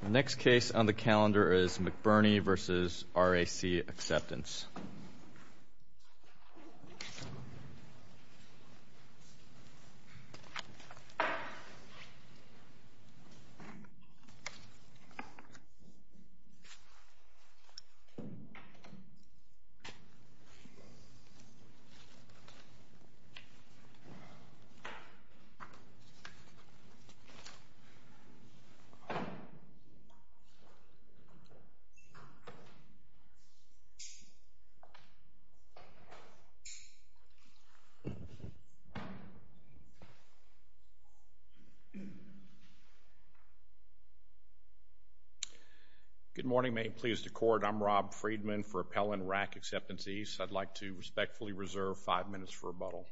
The next case on the calendar is McBurnie v. RAC Acceptance. Good morning. May it please the Court, I'm Rob Friedman for Appellant RAC Acceptance East. I'd like to respectfully reserve five minutes for rebuttal.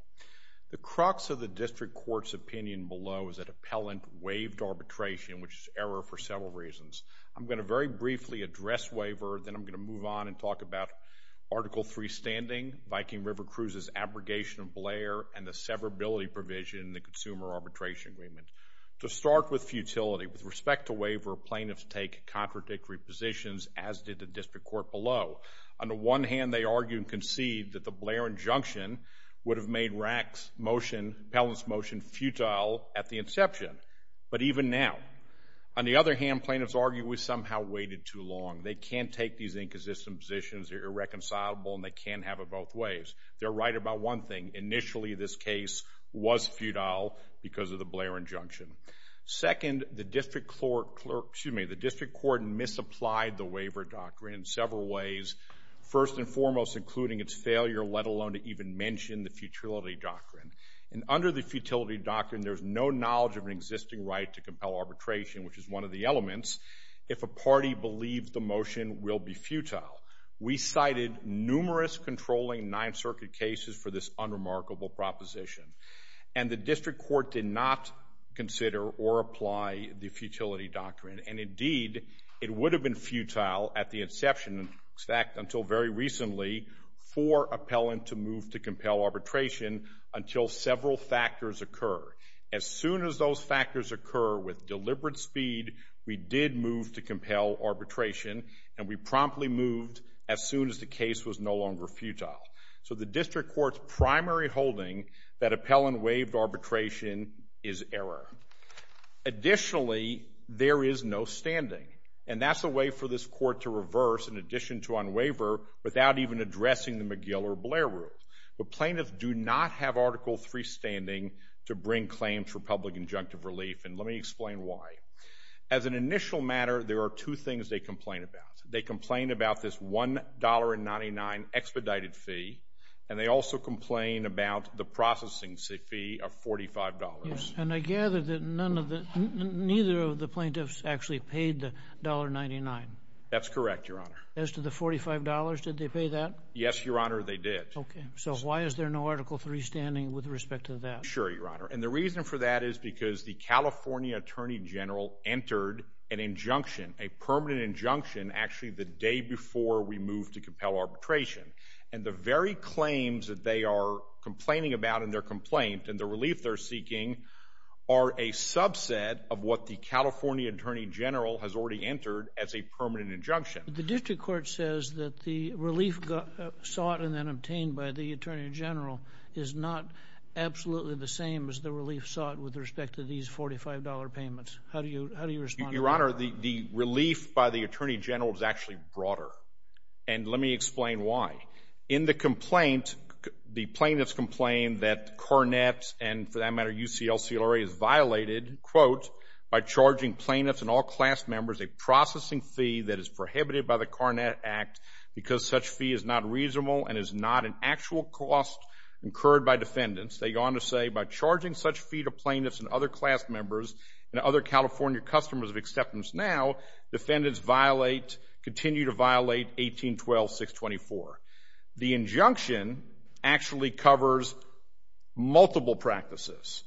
The crux of the District Court's arbitration, which is error for several reasons. I'm going to very briefly address waiver, then I'm going to move on and talk about Article III standing, Viking River Cruises abrogation of Blair, and the severability provision in the Consumer Arbitration Agreement. To start with futility, with respect to waiver, plaintiffs take contradictory positions as did the District Court below. On the one hand, they argue and concede that the Blair injunction would have made RAC's motion, appellant's motion, futile at the inception, but even now. On the other hand, plaintiffs argue we somehow waited too long. They can't take these inconsistent positions, they're irreconcilable, and they can't have it both ways. They're right about one thing, initially this case was futile because of the Blair injunction. Second, the District Court, excuse me, the District Court misapplied the waiver doctrine in several ways. First and foremost, including its failure, let alone to even mention the futility doctrine. And under the futility doctrine, there's no knowledge of an existing right to compel arbitration, which is one of the elements, if a party believed the motion will be futile. We cited numerous controlling Ninth Circuit cases for this unremarkable proposition. And the District Court did not consider or apply the futility doctrine. And in fact, until very recently, for appellant to move to compel arbitration until several factors occur. As soon as those factors occur with deliberate speed, we did move to compel arbitration, and we promptly moved as soon as the case was no longer futile. So the District Court's primary holding that appellant waived arbitration is error. Additionally, there was an addition to unwaiver without even addressing the McGill or Blair rule. The plaintiffs do not have Article III standing to bring claims for public injunctive relief, and let me explain why. As an initial matter, there are two things they complain about. They complain about this $1.99 expedited fee, and they also complain about the processing fee of $45. And I gather that none of the, neither of the plaintiffs actually paid the $1.99. That's correct, Your Honor. As to the $45, did they pay that? Yes, Your Honor, they did. Okay. So why is there no Article III standing with respect to that? Sure, Your Honor. And the reason for that is because the California Attorney General entered an injunction, a permanent injunction, actually the day before we moved to compel arbitration. And the very claims that they are complaining about in their complaint and the relief they're seeking are a subset of what the California Attorney General has already entered as a permanent injunction. The district court says that the relief sought and then obtained by the Attorney General is not absolutely the same as the relief sought with respect to these $45 payments. How do you respond to that? Your Honor, the relief by the Attorney General is actually broader, and let me explain why. In the complaint, the plaintiffs complain that Cornett and, for that matter, UCLCRA has violated, quote, by charging plaintiffs and all class members a processing fee that is prohibited by the Cornett Act because such fee is not reasonable and is not an actual cost incurred by defendants. They go on to say, by charging such fee to plaintiffs and other class members and other California customers of acceptance now, defendants violate, continue to violate 18.12.624. The injunction actually covers multiple practices.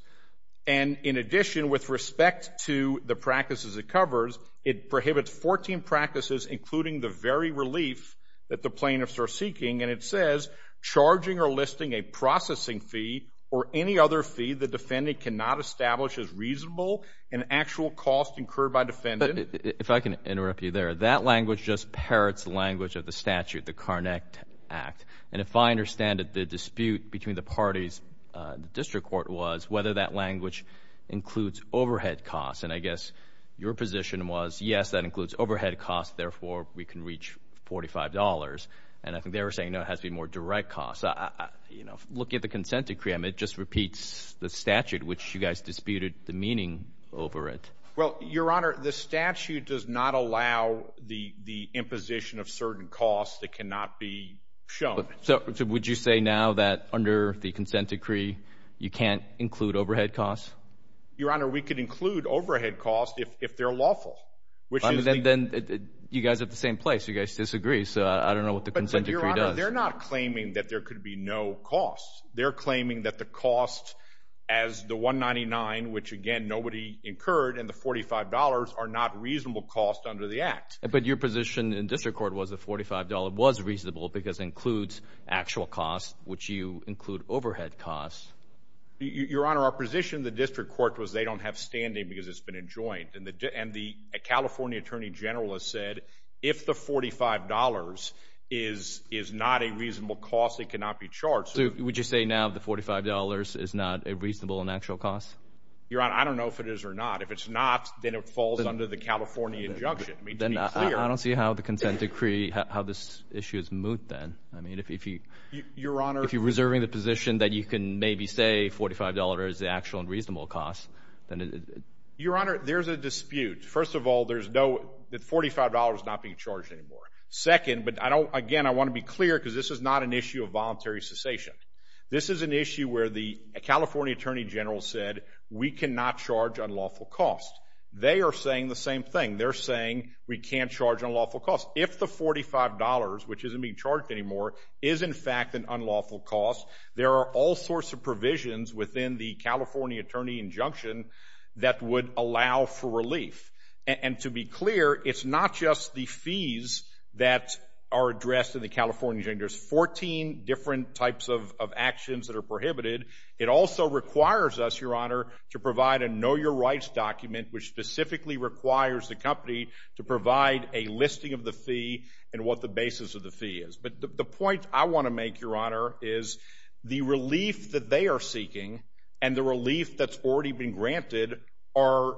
And in addition, with respect to the practices it covers, it prohibits 14 practices, including the very relief that the plaintiffs are seeking. And it says, charging or listing a processing fee or any other fee the defendant cannot establish as reasonable an actual cost incurred by defendant. But if I can interrupt you there, that language just parrots the language of the statute, the Cornett Act. And if I understand it, the dispute between the parties, the district court was, whether that language includes overhead costs. And I guess your position was, yes, that includes overhead costs, therefore, we can reach $45. And I think they were saying, no, it has to be more direct costs. You know, looking at the consent decree, I mean, it just repeats the statute, which you guys disputed the meaning over it. Well, Your Honor, the statute does not allow the imposition of certain costs that cannot be shown. So would you say now that under the consent decree, you can't include overhead costs? Your Honor, we could include overhead costs if they're lawful, which is the— I mean, then you guys are at the same place. You guys disagree. So I don't know what the consent decree does. But, Your Honor, they're not claiming that there could be no costs. They're claiming that the cost as the $199, which, again, nobody incurred, and the $45 are not reasonable costs under the Act. But your position in district court was the $45 was reasonable because it includes actual costs, which you include overhead costs. Your Honor, our position in the district court was they don't have standing because it's been enjoined. And the California attorney general has said, if the $45 is not a reasonable cost, it cannot be charged. So would you say now the $45 is not a reasonable and actual cost? Your Honor, I don't know if it is or not. If it's not, then it falls under the California injunction. I mean, to be clear— Then I don't see how the consent decree—how this issue is moot then. I mean, if you— Your Honor— If you're reserving the position that you can maybe say $45 is the actual and reasonable cost, then— Your Honor, there's a dispute. First of all, there's no—the $45 is not being charged anymore. Second, but I don't—again, I want to be clear because this is not an issue of voluntary cessation. This is an issue where the California attorney general said we cannot charge unlawful costs. They are saying the same thing. They're saying we can't charge unlawful costs. If the $45, which isn't being charged anymore, is in fact an unlawful cost, there are all sorts of provisions clear, it's not just the fees that are addressed in the California injunction. There's 14 different types of actions that are prohibited. It also requires us, Your Honor, to provide a know-your-rights document which specifically requires the company to provide a listing of the fee and what the basis of the fee is. But the point I want to make, Your Honor, is the relief that they are seeking and the $45 are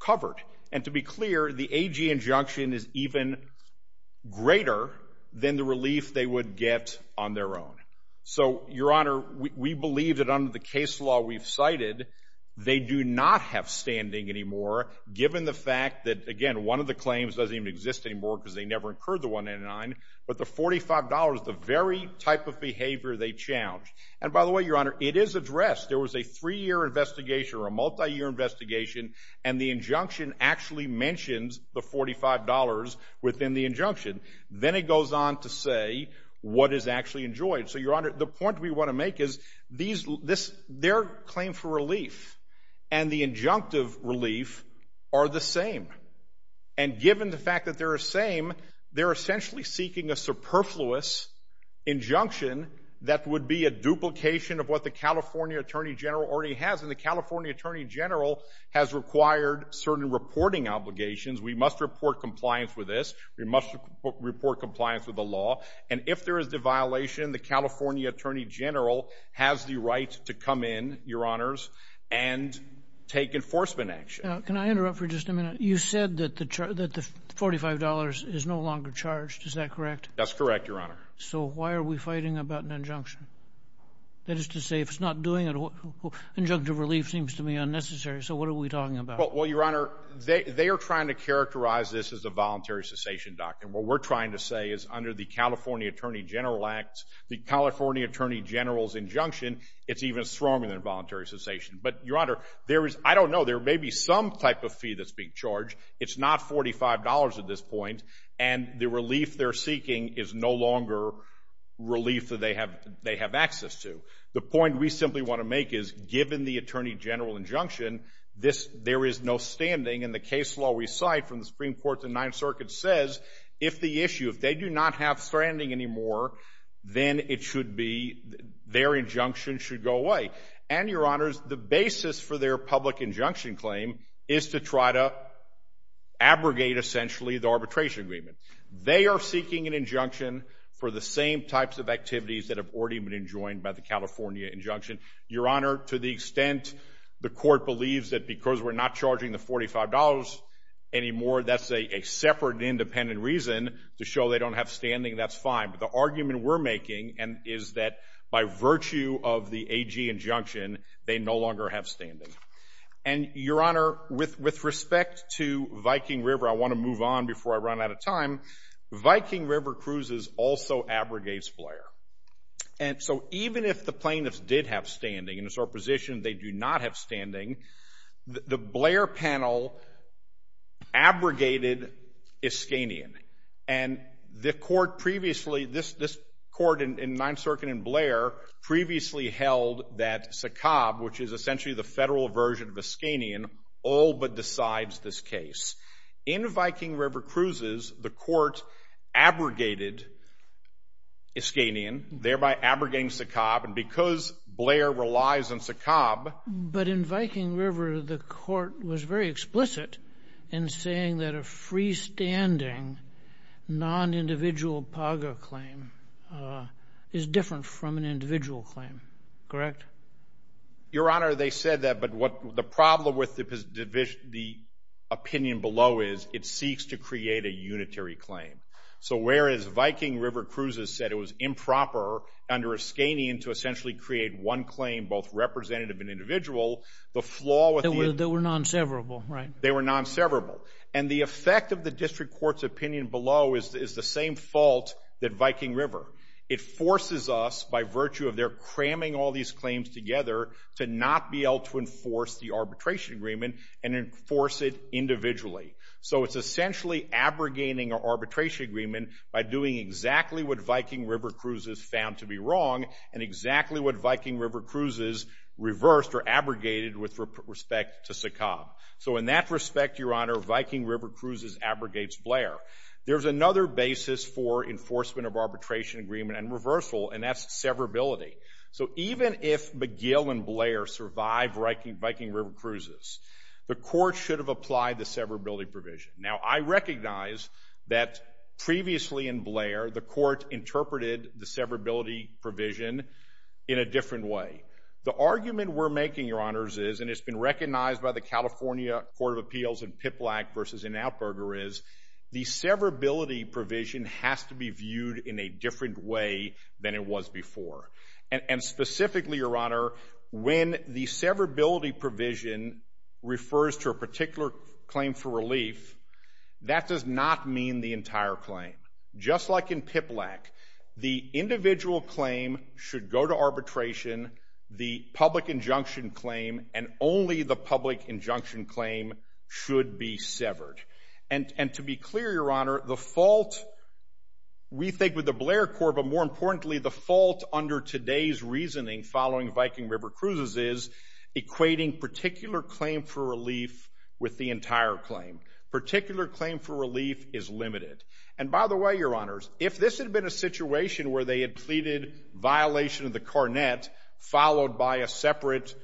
covered. And to be clear, the AG injunction is even greater than the relief they would get on their own. So, Your Honor, we believe that under the case law we've cited, they do not have standing anymore given the fact that, again, one of the claims doesn't even exist anymore because they never incurred the $199, but the $45, the very type of behavior they challenged. And by the way, Your Honor, it is addressed. There was a three-year investigation or a multi-year investigation, and the injunction actually mentions the $45 within the injunction. Then it goes on to say what is actually enjoyed. So, Your Honor, the point we want to make is their claim for relief and the injunctive relief are the same. And given the fact that they're the same, they're essentially seeking a superfluous injunction that would be a duplication of what the California Attorney General already has. And the California Attorney General has required certain reporting obligations. We must report compliance with this. We must report compliance with the law. And if there is a violation, the California Attorney General has the right to come in, Your Honors, and take enforcement action. Can I interrupt for just a minute? You said that the $45 is no longer charged. Is that correct? That's correct, Your Honor. So why are we fighting about an injunction? That is to say, if it's not doing it, injunctive relief seems to me unnecessary. So what are we talking about? Well, Your Honor, they are trying to characterize this as a voluntary cessation doctrine. What we're trying to say is under the California Attorney General Act, the California Attorney General's injunction, it's even stronger than voluntary cessation. But, Your Honor, there is, I don't know, there may be some type of fee that's being charged. It's not $45 at this point. And the relief they're seeking is no longer relief that they have access to. The point we simply want to make is, given the Attorney General injunction, there is no standing. And the case law we cite from the Supreme Court, the Ninth Circuit, says if the issue, if they do not have standing anymore, then it should be, their injunction should go away. And, Your Honors, the basis for their public injunction claim is to try to abrogate, essentially, the arbitration agreement. They are seeking an injunction for the same types of activities that have already been enjoined by the California injunction. Your Honor, to the extent the Court believes that because we're not charging the $45 anymore, that's a separate and independent reason to show they don't have standing, that's fine. But the argument we're making is that by virtue of the AG injunction, they no longer have standing. And, Your Honor, with respect to Viking River, I want to move on before I run out of time. Viking River Cruises also abrogates Blair. And so even if the plaintiffs did have standing and it's our position they do not have standing, the Blair panel abrogated Iskanian. And the Court previously, this Court in Ninth Circuit and Blair previously held that SACOB, which is essentially the federal version of Iskanian, all but decides this case. In Viking River Cruises, the Court abrogated Iskanian, thereby abrogating SACOB. And because Blair relies on SACOB... But in Viking River, the Court was very explicit in saying that a freestanding, non-individual PAGA claim is different from an individual claim, correct? Your Honor, they said that, but the problem with the opinion below is it seeks to create a unitary claim. So whereas Viking River Cruises said it was improper under Iskanian to essentially create one claim, both representative and individual, the flaw with the... They were non-severable, right? They were non-severable. And the effect of the District Court's opinion below is the same fault that Viking River. It forces us, by virtue of their cramming all these claims together, to not be able to enforce the arbitration agreement and enforce it individually. So it's essentially abrogating our arbitration agreement by doing exactly what Viking River Cruises found to be wrong and exactly what Viking River Cruises reversed or abrogated with respect to SACOB. So in that respect, Your Honor, Viking River Cruises abrogates Blair. There's another basis for enforcement of arbitration agreement and reversal, and that's severability. So even if McGill and Blair survive Viking River Cruises, the court should have applied the severability provision. Now, I recognize that previously in Blair, the court interpreted the severability provision in a different way. The argument we're making, Your Honors, is, and it's been recognized by the California Court of Appeals in PIPLAC versus in Atberger, is the severability provision has to be viewed in a different way than it was before. And specifically, Your Honor, when the severability provision refers to a particular claim for relief, that does not mean the entire claim. Just like in PIPLAC, the individual claim should go to arbitration, the public injunction claim and only the public injunction claim should be severed. And to be clear, Your Honor, the fault, we think with the Blair Court, but more importantly, the fault under today's reasoning following Viking River Cruises is equating particular claim for relief with the entire claim. Particular claim for relief is limited. And by the way, Your Honors, if this had been a situation where they had pleaded violation of the carnet followed by a separate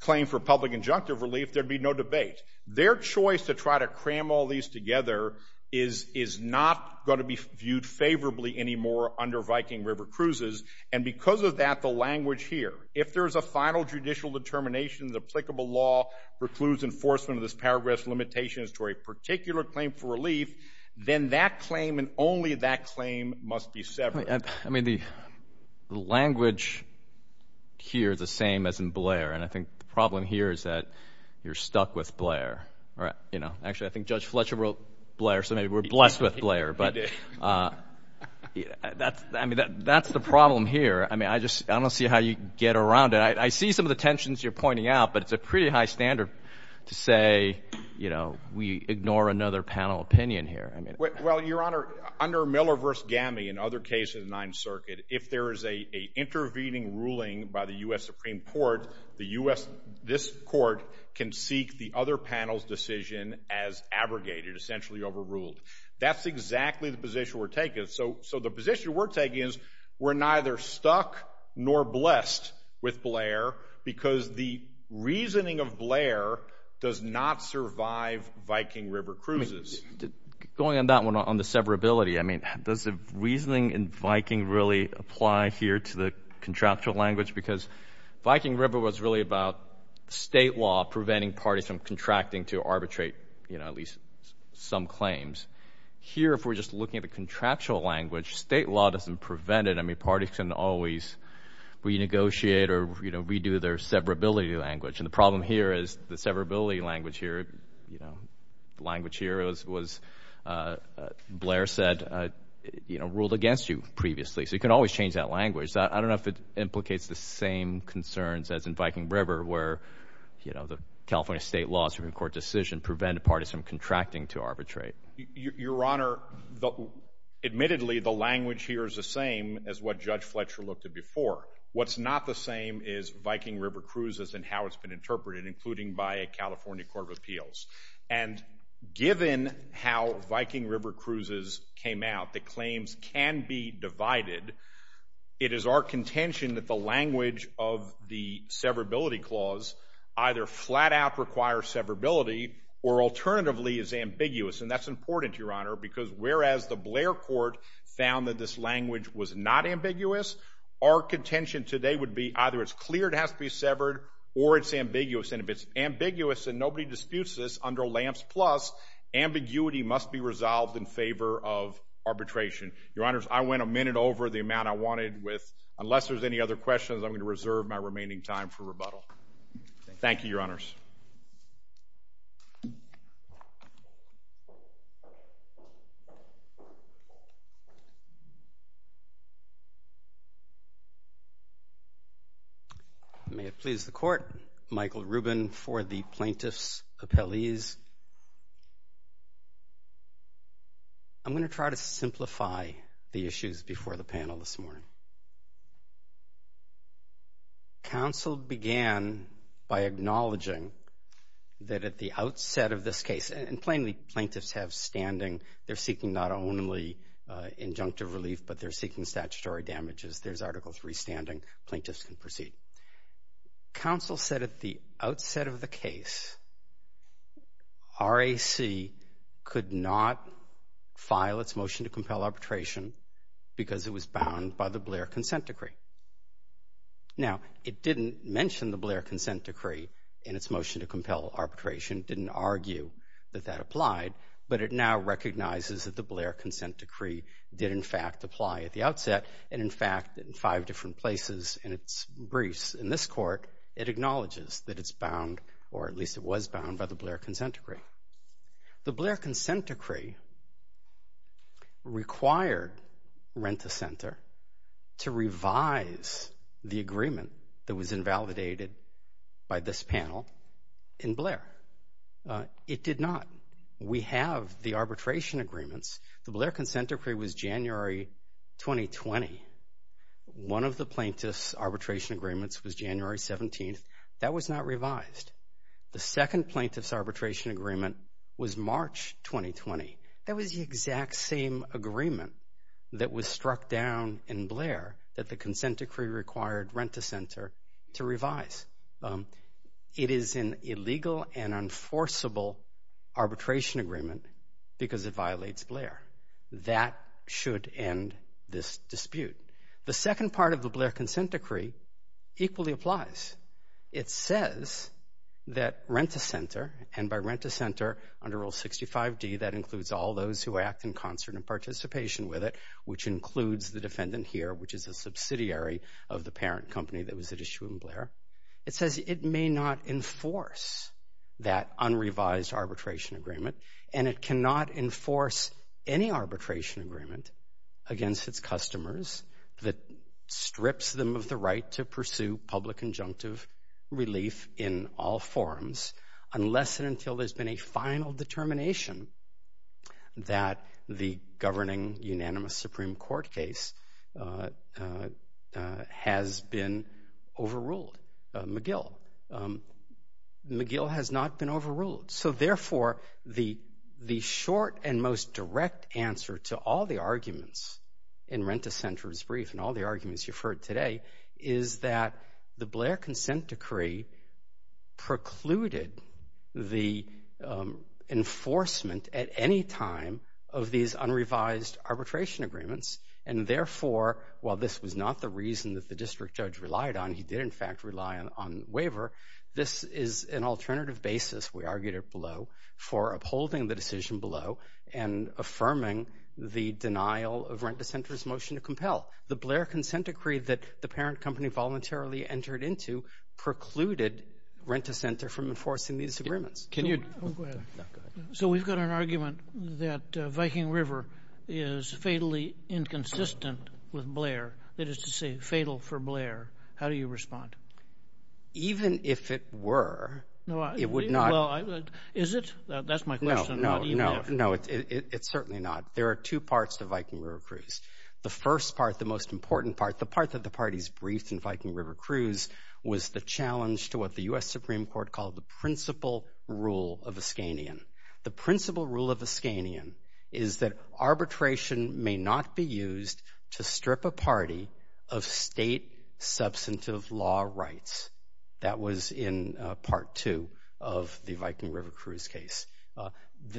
claim for public injunctive relief, there'd be no debate. Their choice to try to cram all these together is not going to be viewed favorably anymore under Viking River Cruises. And because of that, the language here, if there's a final judicial determination, the applicable law precludes enforcement of this paragraph's limitations to a particular claim for relief, then that claim and only that claim must be severed. I mean, the language here is the same as in Blair. And I think the problem here is that you're stuck with Blair. Actually, I think Judge Fletcher wrote Blair, so maybe we're blessed with Blair. But that's the problem here. I mean, I just don't see how you get around it. I see some of the tensions you're pointing out, but it's a pretty high standard to say we ignore another panel opinion here. Well, Your Honor, under Miller v. Gammie and other cases in the Ninth Circuit, if there is an intervening ruling by the U.S. Supreme Court, the U.S. This court can seek the other panel's decision as abrogated, essentially overruled. That's exactly the position we're taking. So the position we're taking is we're neither stuck nor blessed with Blair because the reasoning of Blair does not survive Viking River Cruises. Going on that one, on the severability, I mean, does the reasoning in Viking really apply here to the contractual language? Because Viking River was really about state law preventing parties from contracting to arbitrate at least some claims. Here, if we're just looking at the contractual language, state law doesn't prevent it. I mean, parties can always renegotiate or redo their severability language. And the problem here is the severability language here, you know, language here was, Blair said, you know, ruled against you previously. So you can always change that language. I don't know if it implicates the same concerns as in Viking River where, you know, the California state law, Supreme Court decision, prevent parties from contracting to arbitrate. Your Honor, admittedly, the language here is the same as what Judge Fletcher looked at before. What's not the same is Viking River Cruises and how it's been interpreted, including by a California court of appeals. And given how Viking River Cruises came out, the claims can be divided. It is our contention that the language of the severability clause either flat out requires severability or alternatively is ambiguous. And that's important, Your Honor, because whereas the Blair court found that this contention today would be either it's clear it has to be severed or it's ambiguous. And if it's ambiguous and nobody disputes this under Lamps Plus, ambiguity must be resolved in favor of arbitration. Your Honors, I went a minute over the amount I wanted with, unless there's any other questions, I'm going to reserve my remaining time for rebuttal. Thank you, Your Honors. May it please the Court, Michael Rubin for the plaintiff's appellees. I'm going to try to simplify the issues before the panel this morning. Counsel began by acknowledging that at the outset of this case, and plainly plaintiffs have standing. They're seeking not only injunctive relief, but they're seeking statutory damages. There's Article III standing. Plaintiffs can proceed. Counsel said at the outset of the case, RAC could not file its motion to compel arbitration because it was bound by the Blair consent decree. Now, it didn't mention the Blair consent decree in its motion to compel arbitration, didn't argue that that applied, but it now recognizes that the Blair consent decree did in fact apply at the outset and in fact in five different places in its briefs. In this court, it acknowledges that it's bound, or at least it was bound by the Blair consent decree. The Blair consent decree required Rent-a-Center to revise the agreement that was invalidated by this panel in Blair. It did not. We have the arbitration agreements. The Blair consent decree was January 2020. One of the plaintiff's arbitration agreements was January 17th. That was not revised. The second plaintiff's arbitration agreement was March 2020. That was the exact same agreement that was struck down in Blair that the consent decree required Rent-a-Center to revise. It is an illegal and unforceable arbitration agreement because it violates Blair. That should end this dispute. The second part of the Blair consent decree equally applies. It says that Rent-a-Center, and by Rent-a-Center under Rule 65d, that includes all those who act in concert and participation with it, which includes the defendant here, it says it may not enforce that unrevised arbitration agreement and it cannot enforce any arbitration agreement against its customers that strips them of the right to pursue public injunctive relief in all forms unless and until there's been a final determination that the governing unanimous Supreme Court case has been overruled, McGill. McGill has not been overruled. So, therefore, the short and most direct answer to all the arguments in Rent-a-Center's brief and all the arguments you've heard today is that the Blair consent decree precluded the enforcement at any time of these unrevised arbitration agreements and, therefore, while this was not the reason that the district judge relied on, he did, in fact, rely on waiver, this is an alternative basis, we argued it below, for upholding the decision below and affirming the denial of Rent-a-Center's motion to compel. The Blair consent decree that the parent company voluntarily entered into precluded Rent-a-Center from enforcing these agreements. Can you... So we've got an argument that Viking River is fatally inconsistent with Blair, that is to say, fatal for Blair. How do you respond? Even if it were, it would not... Is it? That's my question. No, no, no, it's certainly not. There are two parts to Viking River cruise. The first part, the most important part, the part that the parties briefed in Viking River cruise was the challenge to what the U.S. Supreme Court called the principle rule of Ascanian. The principle rule of Ascanian is that arbitration may not be used to strip a party of state substantive law rights. That was in part two of the Viking River cruise case.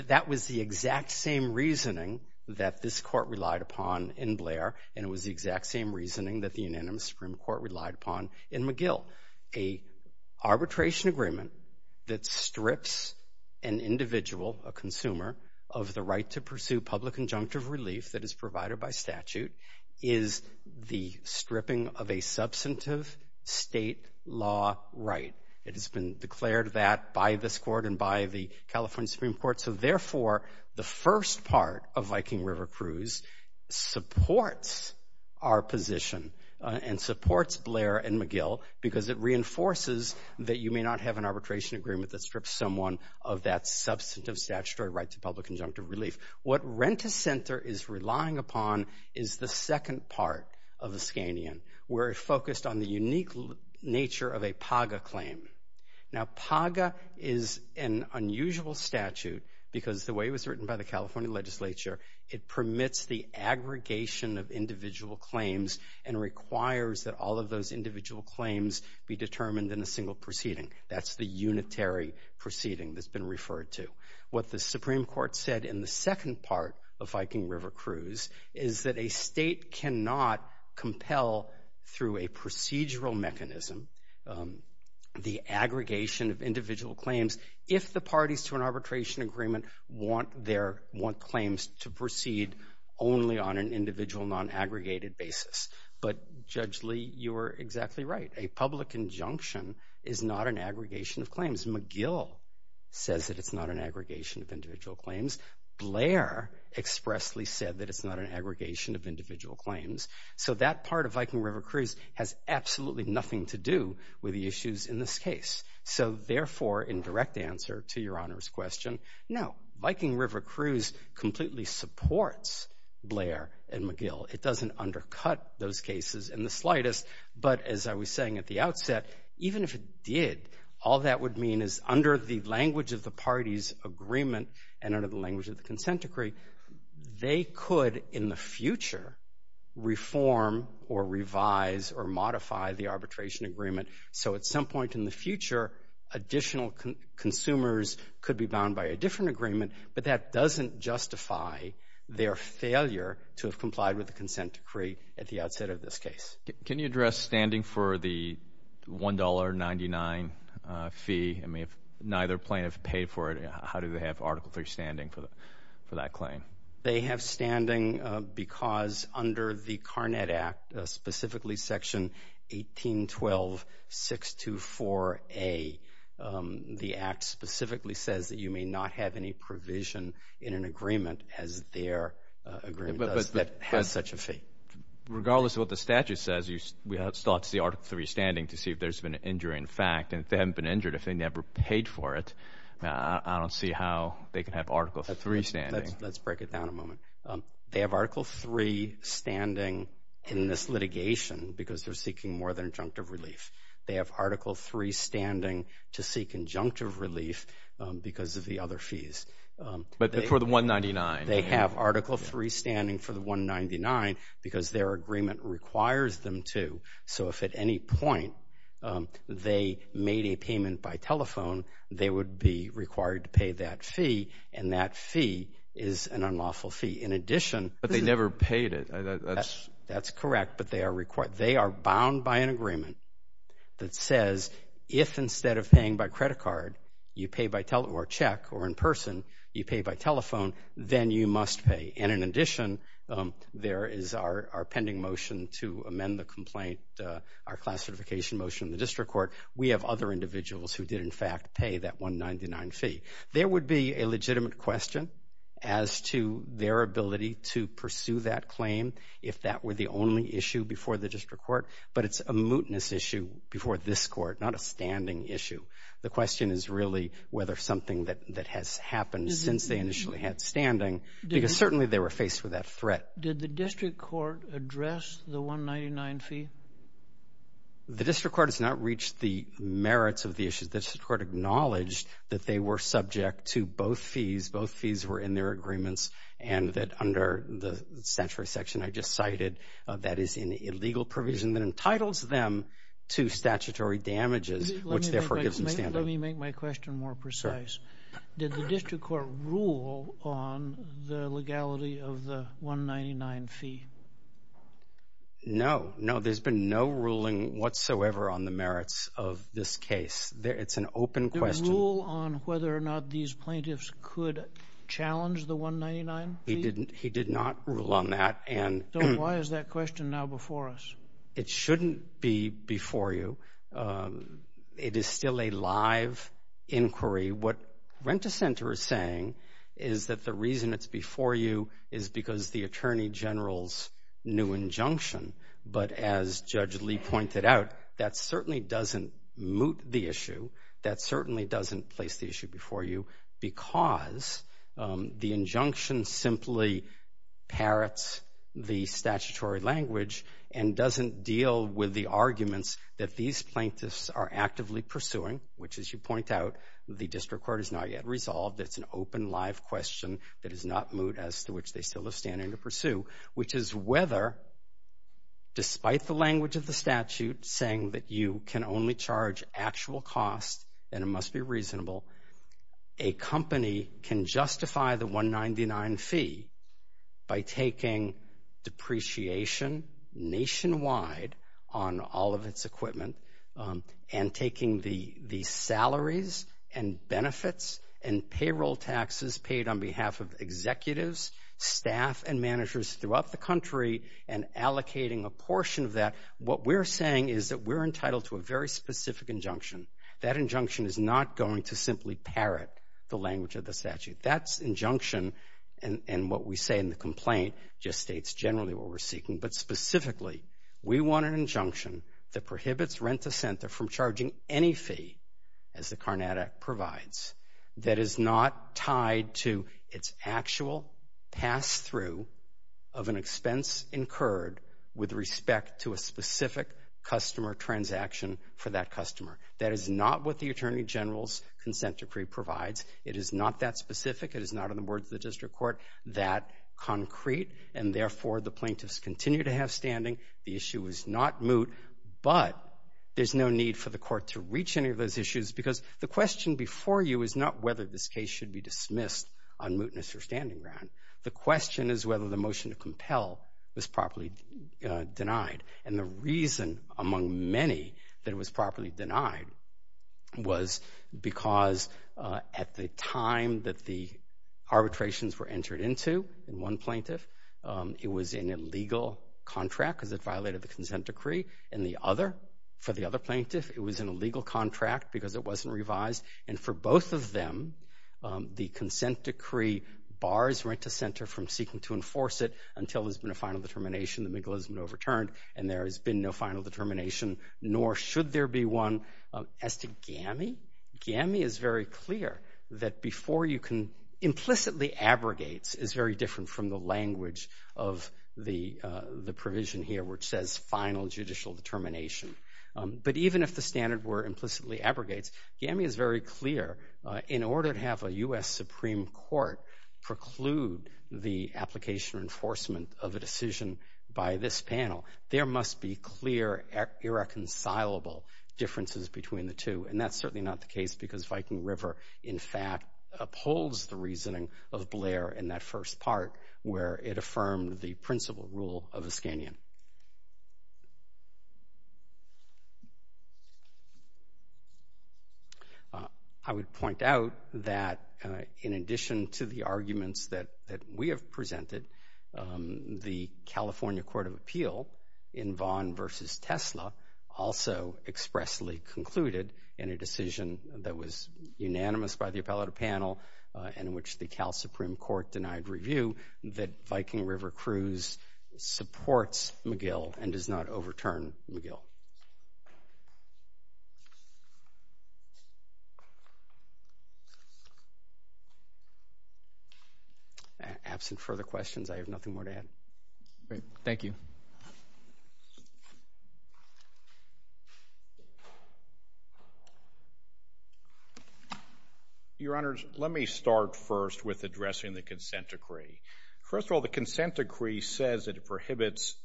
That was the exact same reasoning that this court relied upon in Blair and it was the exact same reasoning that the unanimous Supreme Court relied upon in McGill. An arbitration agreement that strips an individual, a consumer, of the right to pursue public injunctive relief that is provided by statute is the stripping of a substantive state law right. It has been declared that by this court and by the California Supreme Court. So therefore, the first part of Viking River cruise supports our position and supports Blair and McGill because it reinforces that you may not have an arbitration agreement that strips someone of that substantive statutory right to public injunctive relief. What Rent-A-Center is relying upon is the second part of Ascanian where it focused on the unique nature of a PAGA claim. Now, PAGA is an unusual statute because the way it was written by the California legislature, it permits the aggregation of individual claims and requires that all of those individual claims be determined in a single proceeding. That's the unitary proceeding that's been referred to. What the Supreme Court said in the second part of Viking River cruise is that a state cannot compel through a procedural mechanism the aggregation of individual claims if the parties to an arbitration agreement want claims to proceed only on an individual non-aggregated basis. But Judge Lee, you are exactly right. A public injunction is not an aggregation of claims. McGill says that it's not an aggregation of individual claims. Blair expressly said that it's not an aggregation of individual claims. So that part of Viking River cruise has absolutely nothing to do with the issues in this case. So therefore, in direct answer to Your Honor's question, no, Viking River cruise completely supports Blair and McGill. It doesn't undercut those cases in the slightest. But as I was saying at the outset, even if it did, all that would mean is under the language of the parties' agreement and under the language of the consent decree, they could, in the future, reform or revise or modify the arbitration agreement. So at some point in the future, additional consumers could be bound by a different agreement, but that doesn't justify their failure to have complied with the consent decree at the outset of this case. Can you address standing for the $1.99 fee? I mean, if neither plaintiff paid for it, how do they have Article III standing for that claim? They have standing because under the Carnet Act, specifically Section 1812.624a, the Act specifically says that you may not have any provision in an agreement as their agreement does that has such a fee. Regardless of what the statute says, we ought to see Article III standing to see if there's been an injury in fact. And if they haven't been injured, if they never paid for it, I don't see how they can have Article III standing. Let's break it down a moment. They have Article III standing in this litigation because they're seeking more than injunctive relief. They have Article III standing to seek injunctive relief because of the other fees. But for the $1.99? They have Article III standing for the $1.99 because their agreement requires them to. So if at any point they made a payment by telephone, they would be required to pay that fee, and that fee is an unlawful fee. But they never paid it. That's correct, but they are bound by an agreement that says if instead of paying by credit card, you pay by check or in person, you pay by telephone, then you must pay. And in addition, there is our pending motion to amend the complaint, our class certification motion in the district court. We have other individuals who did in fact pay that $1.99 fee. There would be a legitimate question as to their ability to pursue that claim if that were the only issue before the district court, but it's a mootness issue before this court, not a standing issue. The question is really whether something that has happened since they initially had standing, because certainly they were faced with that threat. Did the district court address the $1.99 fee? The district court has not reached the merits of the issue. The district court acknowledged that they were subject to both fees. Both fees were in their agreements and that under the statutory section I just cited, that is an illegal provision that entitles them to statutory damages, which therefore gives them standing. Let me make my question more precise. Did the district court rule on the legality of the $1.99 fee? No, no. There's been no ruling whatsoever on the merits of this case. It's an open question. Did it rule on whether or not these plaintiffs could challenge the $1.99 fee? He did not rule on that. So why is that question now before us? It shouldn't be before you. It is still a live inquiry. What Rent-A-Center is saying is that the reason it's before you is because the Attorney General's new injunction, but as Judge Lee pointed out, that certainly doesn't moot the issue. That certainly doesn't place the issue before you because the injunction simply parrots the statutory language and doesn't deal with the arguments that these plaintiffs are actively pursuing, which, as you point out, the district court has not yet resolved. It's an open, live question that is not moot as to which they still are standing to pursue, which is whether, despite the language of the statute, saying that you can only charge actual costs and it must be reasonable, a company can justify the $1.99 fee by taking depreciation nationwide on all of its equipment and taking the salaries and benefits and payroll taxes paid on behalf of executives, staff, and managers throughout the country and allocating a portion of that. What we're saying is that we're entitled to a very specific injunction. That injunction is not going to simply parrot the language of the statute. That injunction and what we say in the complaint just states generally what we're seeking, but specifically, we want an injunction that prohibits Rent-to-Center from charging any fee as the Carnatic provides that is not tied to its actual pass-through of an expense incurred with respect to a specific customer transaction for that customer. That is not what the Attorney General's consent decree provides. It is not that specific. It is not, in the words of the district court, that concrete, and therefore, the plaintiffs continue to have standing. The issue is not moot, but there's no need for the court to reach any of those issues because the question before you is not whether this case should be dismissed on mootness or standing ground. The question is whether the motion to compel was properly denied. And the reason, among many, that it was properly denied was because at the time that the arbitrations were entered into in one plaintiff, it was an illegal contract because it violated the consent decree. For the other plaintiff, it was an illegal contract because it wasn't revised. And for both of them, the consent decree bars right-to-center from seeking to enforce it until there's been a final determination and the MIGLA has been overturned and there has been no final determination, nor should there be one. As to GAMI, GAMI is very clear that before you can... Implicitly abrogates is very different from the language of the provision here which says final judicial determination. But even if the standard were implicitly abrogates, GAMI is very clear in order to have a U.S. Supreme Court preclude the application or enforcement of a decision by this panel, there must be clear, irreconcilable differences between the two. And that's certainly not the case because Viking River, in fact, upholds the reasoning of Blair in that first part where it affirmed the principal rule of the Scanian. I would point out that in addition to the arguments that we have presented, the California Court of Appeal in Vaughn v. Tesla also expressly concluded in a decision that was unanimous by the appellate panel in which the Cal Supreme Court denied review that Viking River Cruz supports MIGLA and does not overturn MIGLA. Absent further questions, I have nothing more to add. Great. Thank you. Your Honors, let me start first with addressing the consent decree. First of all, the consent decree says that it prohibits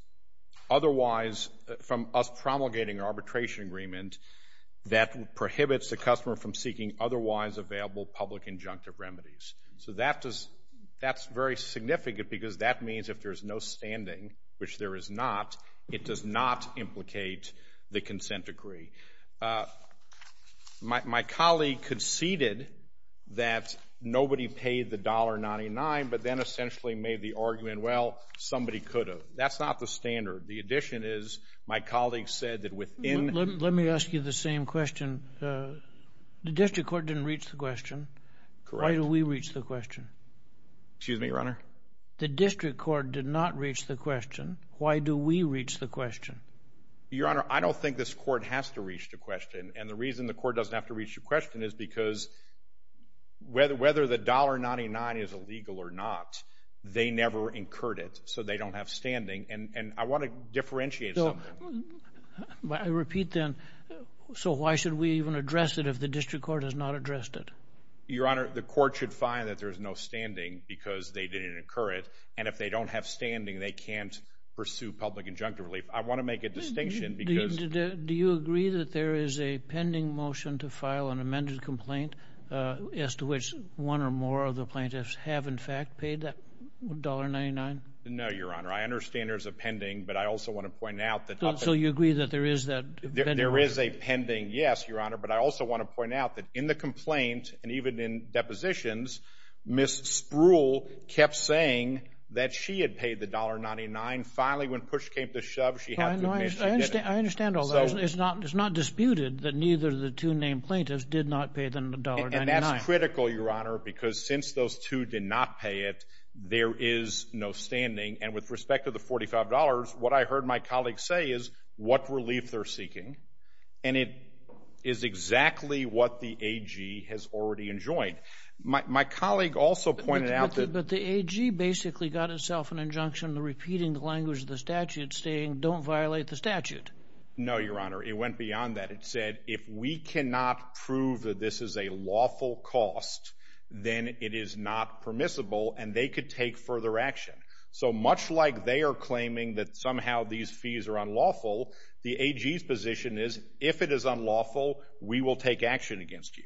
otherwise from us promulgating arbitration agreement that prohibits the commission from seeking otherwise available public injunctive remedies. That's very significant because that means if there's no standing which there is not, it does not implicate the consent decree. My colleague conceded that nobody paid the $1.99 but then essentially made the argument, well, somebody could have. That's not the standard. The addition is my colleague said that within... Let me ask you the same question. The district court didn't reach the question. Why do we reach the question? The district court did not reach the question. Why do we reach the question? Your Honor, I don't think this court has to reach the question and the reason the court doesn't have to reach the question is because whether the $1.99 is illegal or not, they never incurred it so they don't have standing and I want to differentiate something. I repeat then so why should we even address it if the district court has not addressed it? Your Honor, the court should find that there's no standing because they didn't incur it and if they don't have standing they can't pursue public injunctive relief. I want to make a distinction because... Do you agree that there is a pending motion to file an amended complaint as to which one or more of the plaintiffs have in fact paid that $1.99? No, Your Honor. I understand there's a So you agree that there is that pending motion? There is a pending, yes, Your Honor, but I also want to point out that in the complaint and even in depositions Ms. Spruill kept saying that she had paid the $1.99 finally when push came to shove she had to admit she did it. I understand all that. It's not disputed that neither of the two named plaintiffs did not pay the $1.99. And that's critical, Your Honor because since those two did not pay it, there is no standing and with respect to the $45 what I heard my colleagues say is what relief they're seeking and it is exactly what the AG has already enjoined. My colleague also pointed out that... But the AG basically got itself an injunction repeating the language of the statute saying don't violate the statute. No, Your Honor. It went beyond that. It said if we cannot prove that this is a lawful cost then it is not permissible and they could take further action. So much like they are claiming that somehow these fees are unlawful the AG's position is if it is unlawful, we will take action against you.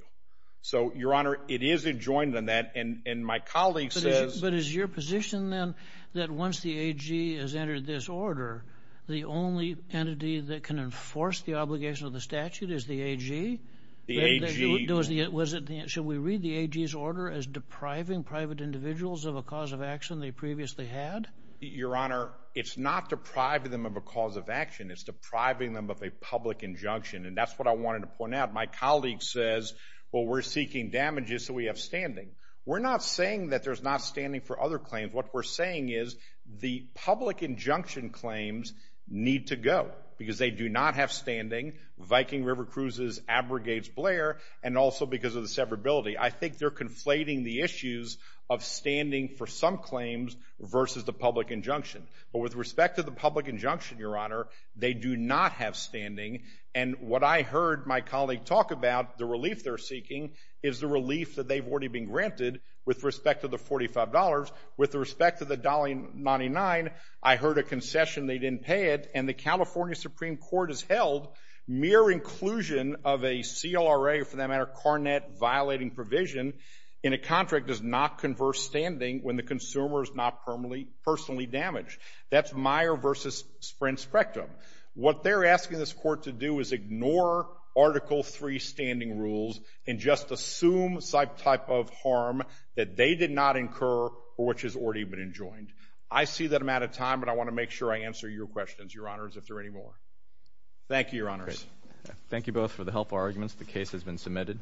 So, Your Honor, it is enjoined on that and my colleague says... But is your position then that once the AG has entered this order the only entity that can enforce the obligation of the statute is the AG? The AG... Should we read the AG's order as depriving private individuals of a cause of action they previously had? Your Honor, it is not depriving them of a cause of action. It is depriving them of a public injunction and that is what I wanted to point out. My colleague says, well, we are seeking damages so we have standing. We are not saying that there is not standing for other claims. What we are saying is the public injunction claims need to go because they do not have standing. Viking River Cruises abrogates Blair and also because of the severability. I think they are conflating the issues of standing for some claims versus the public injunction. But with respect to the public injunction, Your Honor, they do not have standing and what I heard my colleague talk about, the relief they are seeking, is the relief that they have already been granted with respect to the $45. With respect to the $1.99, I heard a concession they did not pay it and the California Supreme Court has held mere inclusion of a CLRA, for that matter, Carnet violating provision in a contract does not convert standing when the consumer is not personally damaged. That is Meyer versus Sprint Spectrum. What they are asking this Court to do is ignore Article III standing rules and just assume type of harm that they did not incur or which has already been enjoined. I see that I am out of time but I want to make sure I answer your questions, Your Honors, if there are any more. Thank you, Your Honors. Thank you both for the helpful arguments. The case has been submitted.